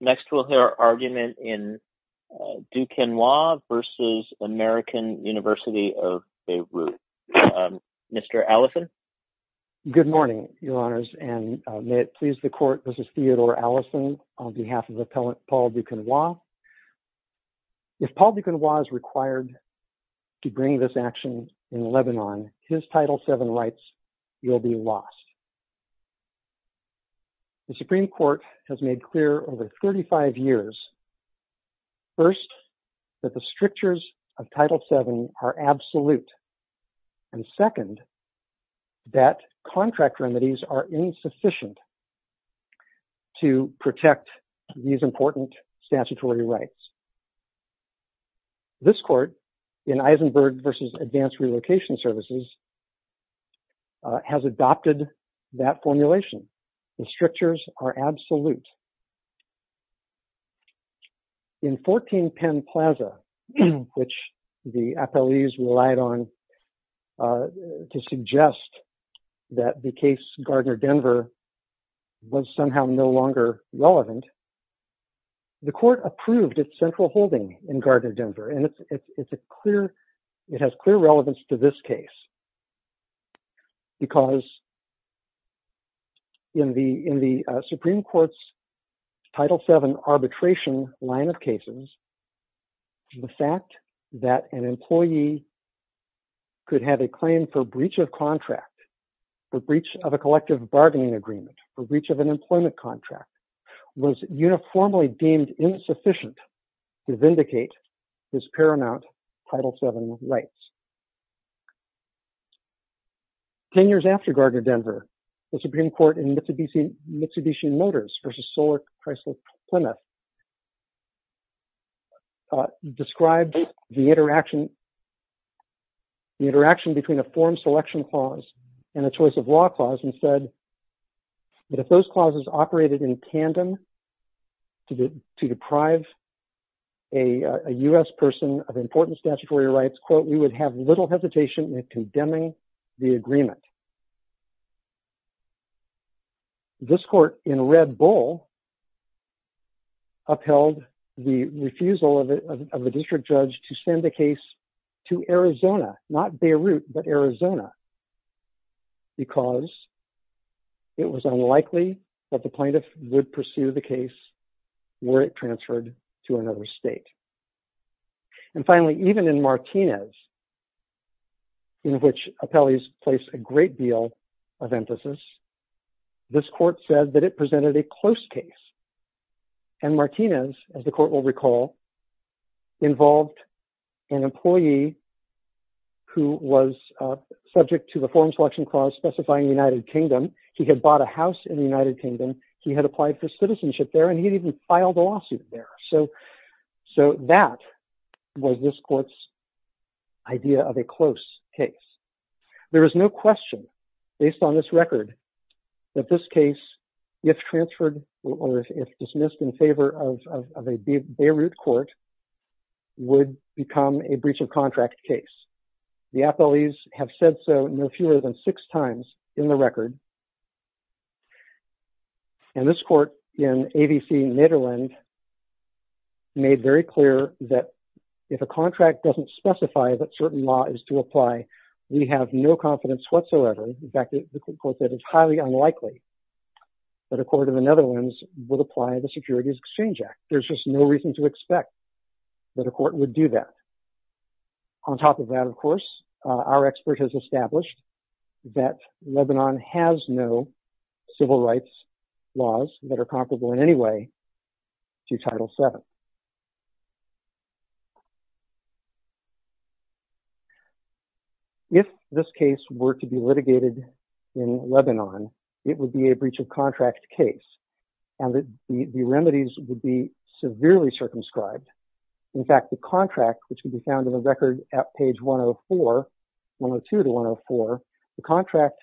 Next we'll hear our argument in Duquenois v. American University of Beirut. Mr. Allison. Good morning, Your Honors, and may it please the Court, this is Theodore Allison on behalf of Appellant Paul Duquenois. If Paul Duquenois is required to bring this action in Lebanon, his Title VII rights will be lost. The Supreme Court has made clear over 35 years, first, that the strictures of Title VII are absolute, and second, that contract remedies are insufficient to protect these important statutory rights. This Court, in Eisenberg v. Advanced Relocation Services, has adopted that formulation. The strictures are absolute. In 14 Penn Plaza, which the appellees relied on to suggest that the case Gardner-Denver was somehow no longer relevant, the Court approved its central holding in Gardner-Denver, and it's a clear, it has clear relevance to this case, because in the Supreme Court's Title VII arbitration line of cases, the fact that an employee could have a claim for breach of contract, for breach of a collective bargaining agreement, for breach of an employment contract, was uniformly deemed insufficient to protect. Ten years after Gardner-Denver, the Supreme Court in Mitsubishi Motors v. Solar Chrysler Plymouth described the interaction between a form selection clause and a choice of law clause and said that if those clauses operated in tandem to deprive a U.S. person of important statutory rights, quote, we would have little hesitation in condemning the agreement. This Court, in Red Bull, upheld the refusal of a district judge to send a case to Arizona, not Beirut, but Arizona, because it was unlikely that the plaintiff would pursue the case were it And finally, even in Martinez, in which appellees place a great deal of emphasis, this Court said that it presented a close case. And Martinez, as the Court will recall, involved an employee who was subject to the form selection clause specifying the United Kingdom. He had bought a house in the United Kingdom, he had applied for citizenship there, and he had even filed a lawsuit there. So that was this Court's idea of a close case. There is no question, based on this record, that this case, if transferred or if dismissed in favor of a Beirut court, would become a breach of contract case. The appellees have said so no fewer than six times in the record. And this Court, in ABC Nederland, made very clear that if a contract doesn't specify that certain law is to apply, we have no confidence whatsoever. In fact, the Court said it's highly unlikely that a court in the Netherlands would apply the Securities Exchange Act. There's just no reason to expect that a court would do that. On top of that, of course, our expert has established that Lebanon has no civil rights laws that are comparable in any way to Title VII. If this case were to be litigated in Lebanon, it would be a breach of contract case, and the remedies would be severely circumscribed. In fact, the contract, which can be found in the record at page 102-104, the contract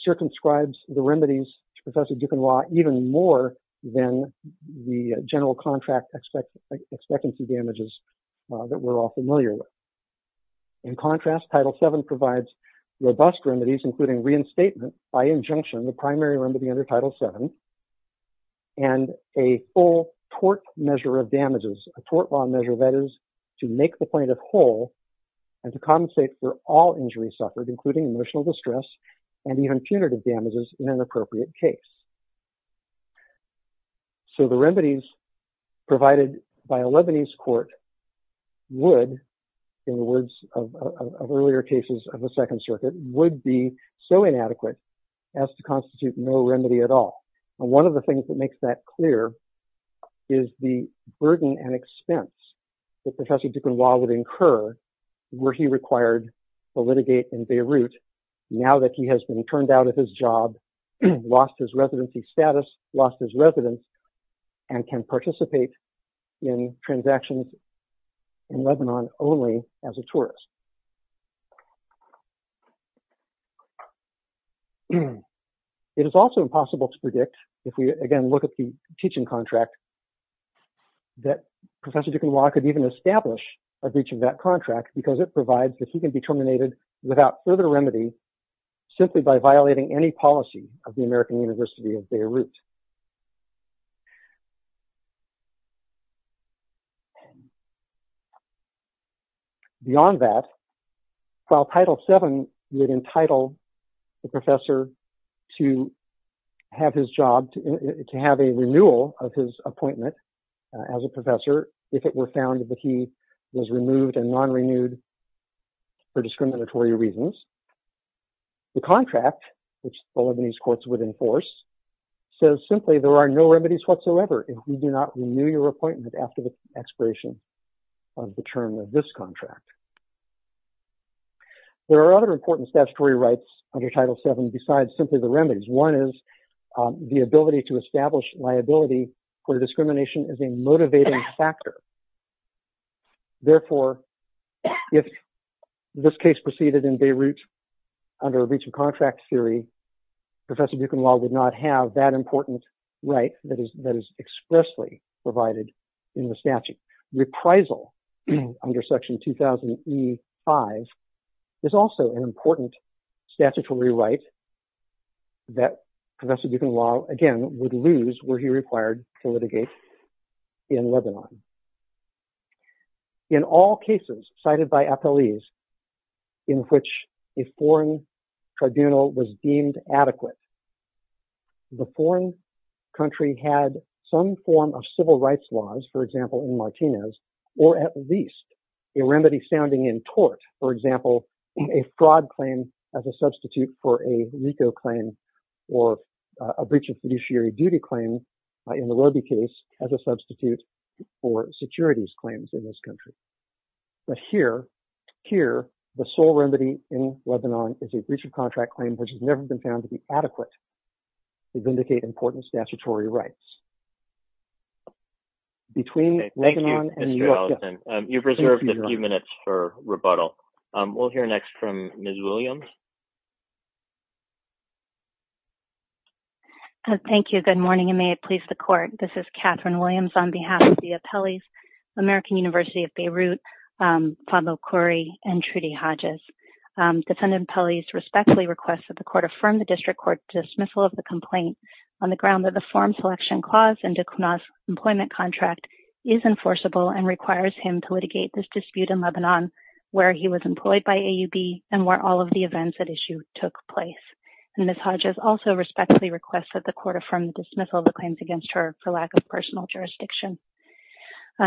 circumscribes the remedies to Professor Duquenois even more than the general contract expectancy damages that we're all familiar with. In contrast, Title VII provides robust remedies, including reinstatement by injunction, the primary remedy under Title VII, and a full tort measure of damages, a tort law to make the plaintiff whole and to compensate for all injuries suffered, including emotional distress and even punitive damages in an appropriate case. So the remedies provided by a Lebanese court would, in the words of earlier cases of the Second Circuit, would be so inadequate as to constitute no remedy at all. One of the things that makes that clear is the burden and expense that Professor Duquenois would incur were he required to litigate in Beirut now that he has been turned out of his job, lost his residency status, lost his residence, and can participate in transactions in Lebanon only as a tourist. It is also impossible to predict, if we again look at the teaching contract, that Professor Duquenois could even establish a breach of that contract because it provides that he can be terminated without further remedy, simply by violating any policy of the American University of Beirut. Beyond that, while Title VII would entitle the professor to have his job, to have a renewal of his appointment as a professor if it were found that he was removed and non-renewed for discriminatory reasons, the contract, which the Lebanese courts would enforce, there are no remedies whatsoever if you do not renew your appointment after the expiration of the term of this contract. There are other important statutory rights under Title VII besides simply the remedies. One is the ability to establish liability where discrimination is a motivating factor. Therefore, if this case proceeded in Beirut under a breach of contract theory, Professor Duquenois would not have that important right that is expressly provided in the statute. Reprisal under Section 2000E5 is also an important statutory right that Professor Duquenois, again, would lose were he required to litigate in Lebanon. In all cases cited by appellees in which a foreign tribunal was deemed adequate, the foreign country had some form of civil rights laws, for example, in Martinez, or at least a remedy sounding in tort, for example, a fraud claim as a substitute for a RICO claim or a breach of fiduciary duty claim in the Roby case as a substitute for securities claims in this country. But here, the sole remedy in Lebanon is a breach of contract claim, which has never been found to be adequate to vindicate important statutory rights. Between Lebanon and the U.S. Thank you, Mr. Allison. You've reserved a few minutes for rebuttal. We'll hear next from Ms. Williams. Thank you. Good morning, and may it please the Court. This is Catherine Williams on behalf of the appellees, American University of Beirut, Fadlo Khoury, and Trudy Hodges. Defendant Pelley respectfully requests that the Court affirm the District Court's dismissal of the complaint on the ground that the Form Selection Clause in Duquenois' employment contract is enforceable and requires him to litigate this dispute in Lebanon where he was employed by AUB and where all of the events at issue took place. And Ms. Hodges also respectfully requests that the Court affirm the dismissal of the claims against her for lack of personal jurisdiction.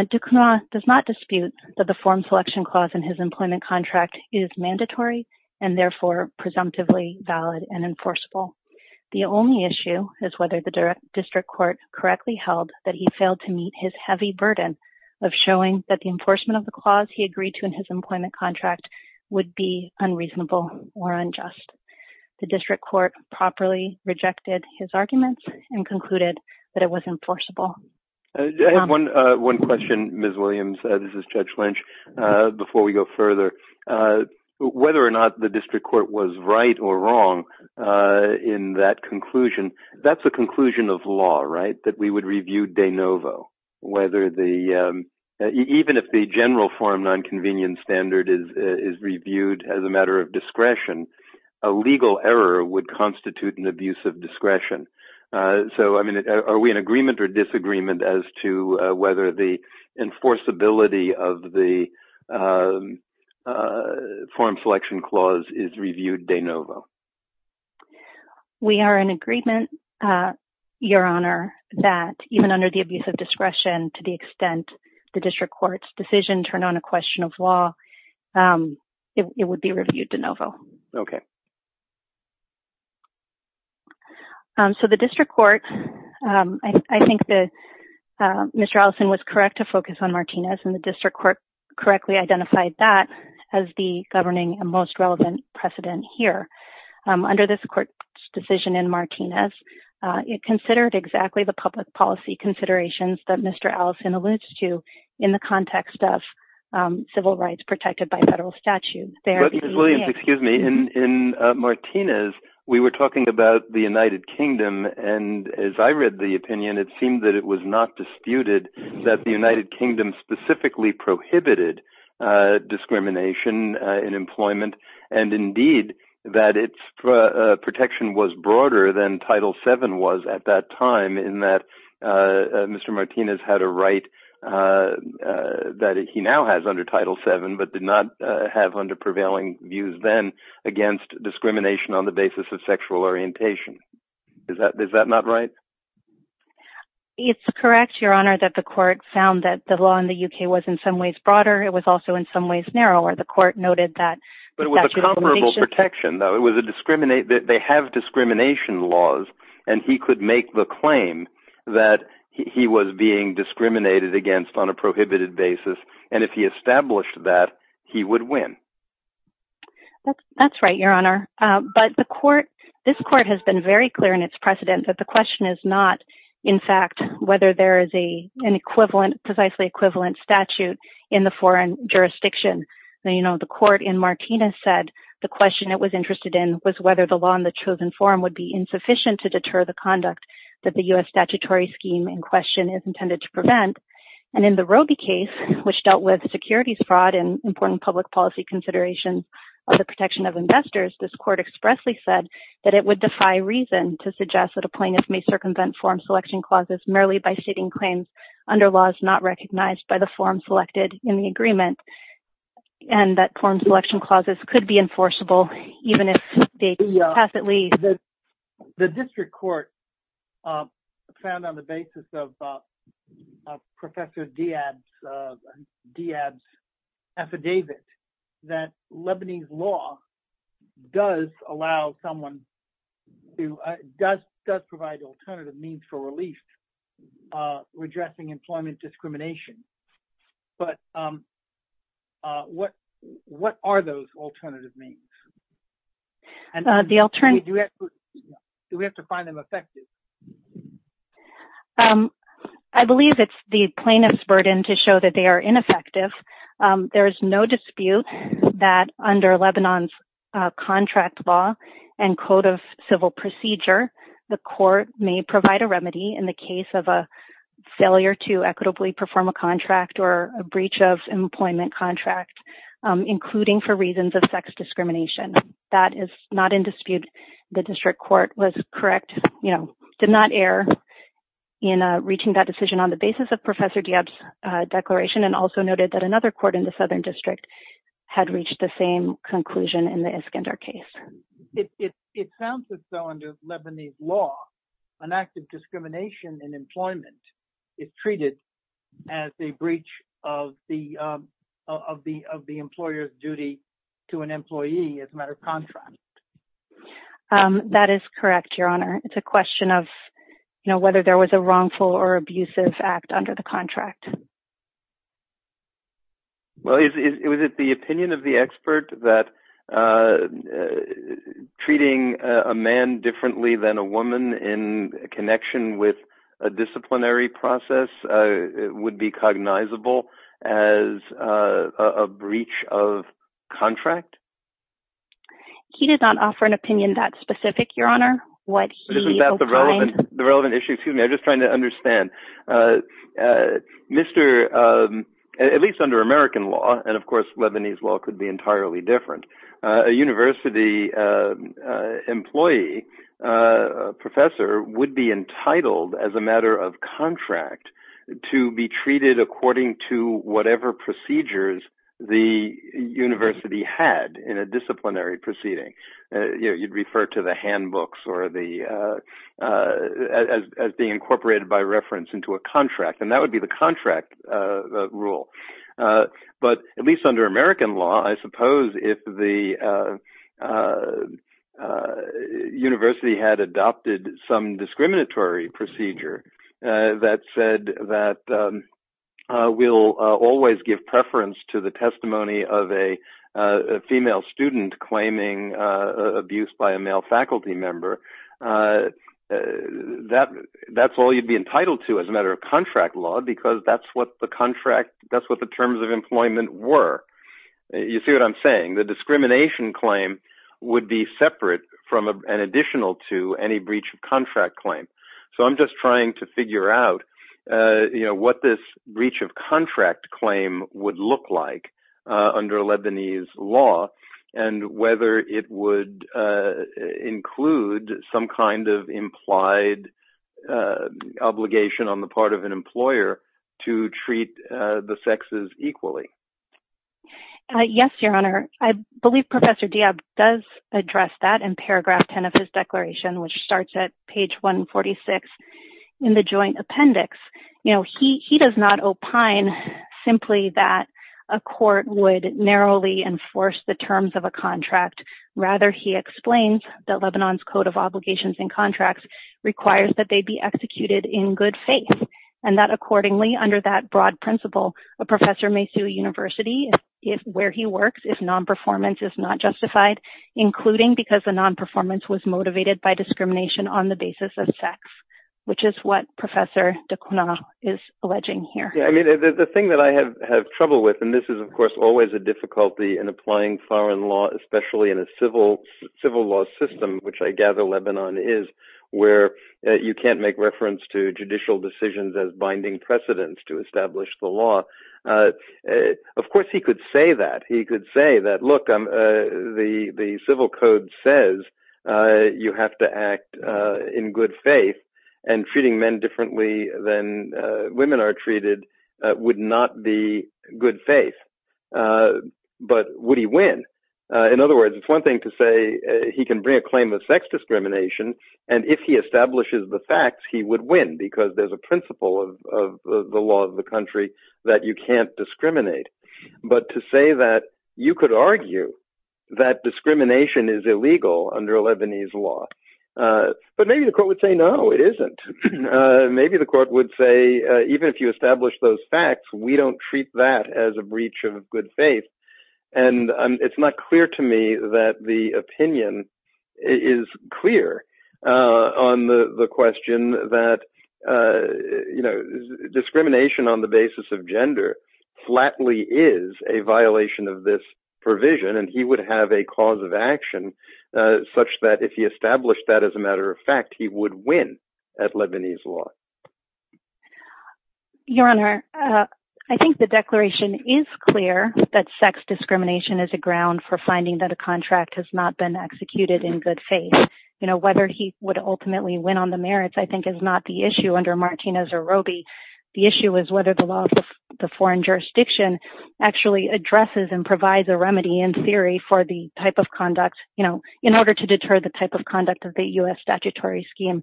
Duquenois does not dispute that the Form Selection Clause in his employment contract is mandatory and therefore presumptively valid and enforceable. The only issue is whether the District Court correctly held that he failed to meet his heavy burden of showing that the employment contract would be unreasonable or unjust. The District Court properly rejected his arguments and concluded that it was enforceable. I have one question, Ms. Williams. This is Judge Lynch. Before we go further, whether or not the District Court was right or wrong in that conclusion, that's a conclusion of law, right, that we would review de novo, whether the, even if the general form non-convenience standard is reviewed as a matter of discretion, a legal error would constitute an abuse of discretion. So, I mean, are we in agreement or disagreement as to whether the enforceability of the Form Selection Clause is reviewed de novo? We are in agreement, Your Honor, that even under the abuse of discretion, to the extent the District Court's decision turned on a question of law, it would be reviewed de novo. Okay. So, the District Court, I think that Mr. Allison was correct to focus on Martinez and the District Court correctly identified that as the governing and most relevant precedent here. Under this Court's decision in Martinez, it considered exactly the public policy considerations that Mr. Allison alludes to in the context of civil rights protected by federal statute. Ms. Williams, excuse me. In in Martinez, we were talking about the United Kingdom, and as I read the opinion, it seemed that it was not disputed that the United Kingdom specifically prohibited discrimination in at that time in that Mr. Martinez had a right that he now has under Title VII, but did not have under prevailing views then against discrimination on the basis of sexual orientation. Is that not right? It's correct, Your Honor, that the Court found that the law in the UK was in some ways broader. It was also in some ways narrower. The Court noted that it was a comparable protection, though. They have discrimination laws, and he could make the claim that he was being discriminated against on a prohibited basis, and if he established that, he would win. That's right, Your Honor, but this Court has been very clear in its precedent that the question is not, in fact, whether there is a precisely equivalent statute in the foreign jurisdiction. Now, you know, the Court in Martinez said the question it was interested in was whether the law in the chosen forum would be insufficient to deter the conduct that the U.S. statutory scheme in question is intended to prevent, and in the Roby case, which dealt with securities fraud and important public policy consideration of the protection of investors, this Court expressly said that it would defy reason to suggest that a plaintiff may circumvent form selection clauses merely by stating claims under laws not recognized by the forum selected in the agreement, and that form selection clauses could be enforceable even if they pass at least. The District Court found on the basis of Professor Diab's affidavit that Lebanese law does provide alternative means for relief, redressing employment discrimination, but what are those alternative means? Do we have to find them effective? I believe it's the plaintiff's burden to show that they are ineffective. There is no dispute that under Lebanon's contract law and code of civil procedure, the Court may provide a remedy in the case of a failure to equitably perform a contract or a breach of employment contract, including for reasons of sex discrimination. That is not in dispute. The District Court was correct, you know, did not err in reaching that decision on the basis of another court in the Southern District had reached the same conclusion in the Iskander case. It sounds as though under Lebanese law, an act of discrimination in employment is treated as a breach of the employer's duty to an employee as a matter of contract. That is correct, Your Honor. It's a question of, you know, whether there was a wrongful or abusive act under the contract. Well, is it the opinion of the expert that treating a man differently than a woman in connection with a disciplinary process would be cognizable as a breach of contract? He did not offer an opinion that specific, Your Honor. Isn't that the relevant issue? Excuse me, I'm just trying to understand. Mr., at least under American law, and of course, Lebanese law could be entirely different. A university employee, a professor would be entitled as a matter of contract to be treated according to whatever procedures the university had in a disciplinary proceeding. You'd refer to the handbooks as being incorporated by reference into a contract, and that would be the contract rule. But at least under American law, I suppose if the university had adopted some discriminatory procedure that said that we'll always give abuse by a male faculty member, that's all you'd be entitled to as a matter of contract law, because that's what the terms of employment were. You see what I'm saying? The discrimination claim would be separate and additional to any breach of contract claim. So I'm just trying to figure out what this breach of contract claim would look like under Lebanese law, and whether it would include some kind of implied obligation on the part of an employer to treat the sexes equally. Yes, Your Honor. I believe Professor Diab does address that in paragraph 10 of his declaration, which starts at page 146 in the Joint Appendix. He does not opine simply that a court would narrowly enforce the terms of a contract. Rather, he explains that Lebanon's Code of Obligations and Contracts requires that they be executed in good faith, and that accordingly, under that broad principle, a professor may sue a university where he works if non-performance is not justified, including because the non-performance was motivated by discrimination on the basis of sex, which is what Professor Diab is alleging here. I mean, the thing that I have trouble with, and this is, of course, always a difficulty in applying foreign law, especially in a civil law system, which I gather Lebanon is, where you can't make reference to judicial decisions as binding precedents to establish the law. Of course, he could say that. He could say that, look, the civil code says you have to act in good faith, and treating men differently than women are treated would not be good faith. But would he win? In other words, it's one thing to say he can bring a claim of sex discrimination, and if he establishes the facts, he would win because there's a principle of the law of the to say that you could argue that discrimination is illegal under Lebanese law. But maybe the court would say, no, it isn't. Maybe the court would say, even if you establish those facts, we don't treat that as a breach of good faith. And it's not clear to me that the opinion is clear on the question that, you know, a violation of this provision, and he would have a cause of action such that if he established that as a matter of fact, he would win at Lebanese law. Your Honor, I think the declaration is clear that sex discrimination is a ground for finding that a contract has not been executed in good faith. You know, whether he would ultimately win on the merits, I think, is not the issue under Martinez or Roby. The issue is whether the law the foreign jurisdiction actually addresses and provides a remedy in theory for the type of conduct, you know, in order to deter the type of conduct of the US statutory scheme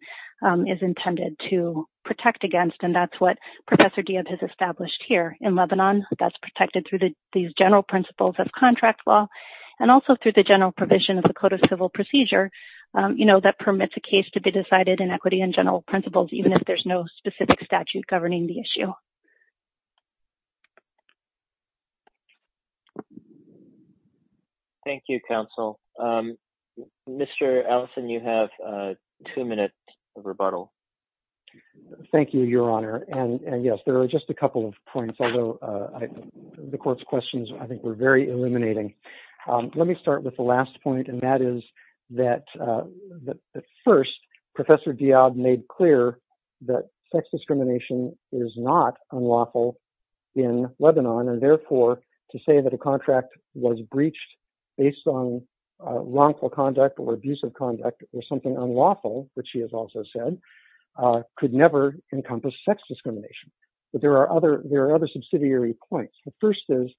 is intended to protect against. And that's what Professor Diab has established here in Lebanon that's protected through the these general principles of contract law, and also through the general provision of the Code of Civil Procedure. You know, that permits a case to be decided in equity and general principles, even if there's no specific statute governing the issue. Thank you, counsel. Mr. Allison, you have two minutes of rebuttal. Thank you, Your Honor. And yes, there are just a couple of points, although the court's questions, I think, were very illuminating. Let me start with the last point. And that is that, first, Professor Diab made clear that sex discrimination is not unlawful in Lebanon, and therefore, to say that a contract was breached based on wrongful conduct or abusive conduct or something unlawful, which she has also said, could never encompass sex discrimination. But there are other subsidiary points. The first is,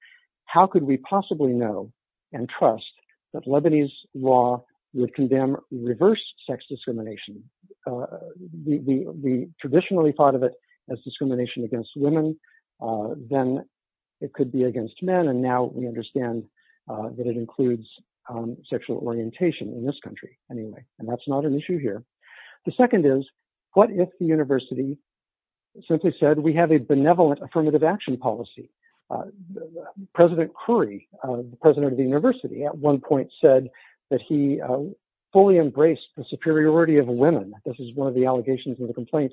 how could we possibly know and trust that Lebanese law would condemn reverse sex discrimination? We traditionally thought of it as discrimination against women. Then it could be against men. And now we understand that it includes sexual orientation in this country, anyway. And that's not an issue here. The second is, what if the university simply said, we have a benevolent affirmative action policy? The President Khoury, the president of the university, at one point said that he fully embraced the superiority of women. This is one of the allegations in the complaint,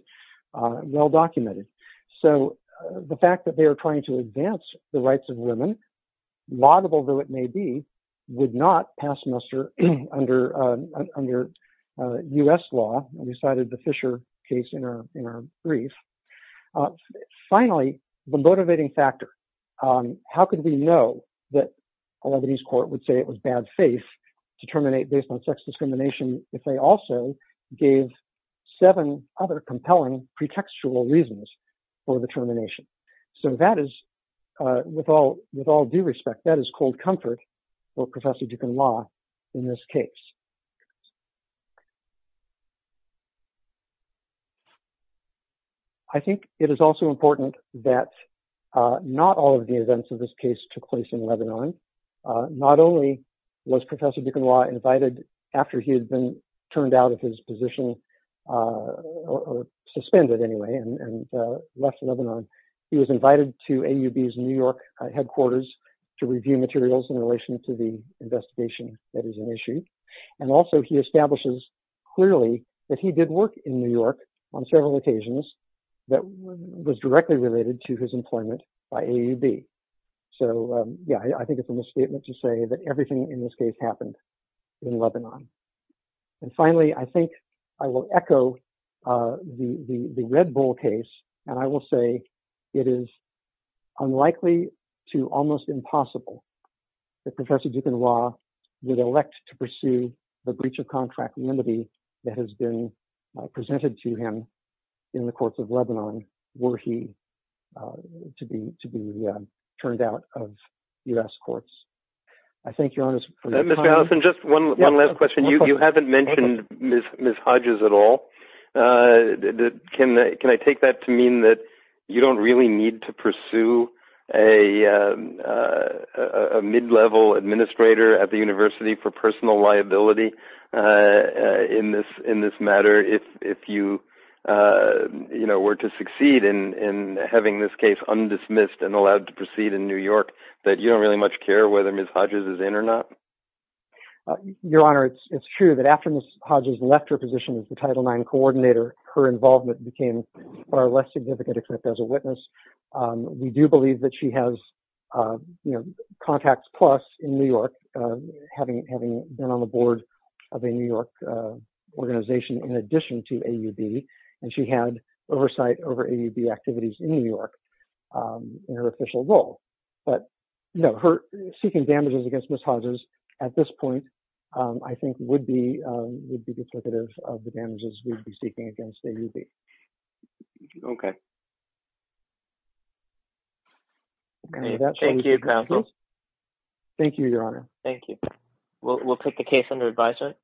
well-documented. So the fact that they are trying to advance the rights of women, laudable though it may be, would not pass muster under U.S. law. We cited the Fisher case in our How could we know that a Lebanese court would say it was bad faith to terminate based on sex discrimination if they also gave seven other compelling pretextual reasons for the termination? So that is, with all due respect, that is cold comfort for Professor Dukan Law in this case. I think it is also important that not all of the events of this case took place in Lebanon. Not only was Professor Dukan Law invited after he had been turned out of his position, suspended anyway, and left Lebanon, he was invited to AUB's New York headquarters to review materials in relation to the investigation that is an issue. And also he establishes clearly that he did work in New York on several occasions that was directly related to his employment by AUB. So, yeah, I think it is a misstatement to say that everything in this case happened in Lebanon. And finally, I think I will echo the Red Bull case, and I will it is unlikely to almost impossible that Professor Dukan Law would elect to pursue the breach of contract remedy that has been presented to him in the courts of Lebanon were he to be turned out of U.S. courts. I thank you for your time. Mr. Allison, just one last question. You haven't mentioned Ms. Hodges at all. Can I take that to mean that you don't really need to pursue a mid-level administrator at the university for personal liability in this matter if you were to succeed in having this case undismissed and allowed to proceed in New York, that you don't really much care whether Ms. Hodges is in or not? Your Honor, it's true that after Ms. Hodges' case, her involvement became far less significant, except as a witness. We do believe that she has contacts plus in New York, having been on the board of a New York organization in addition to AUB, and she had oversight over AUB activities in New York in her official role. But, no, her seeking damages against Ms. Hodges at this point, I think, would be duplicative of the damages we'd be seeking against AUB. Okay. Thank you, counsel. Thank you, Your Honor. Thank you. We'll put the case under advisement.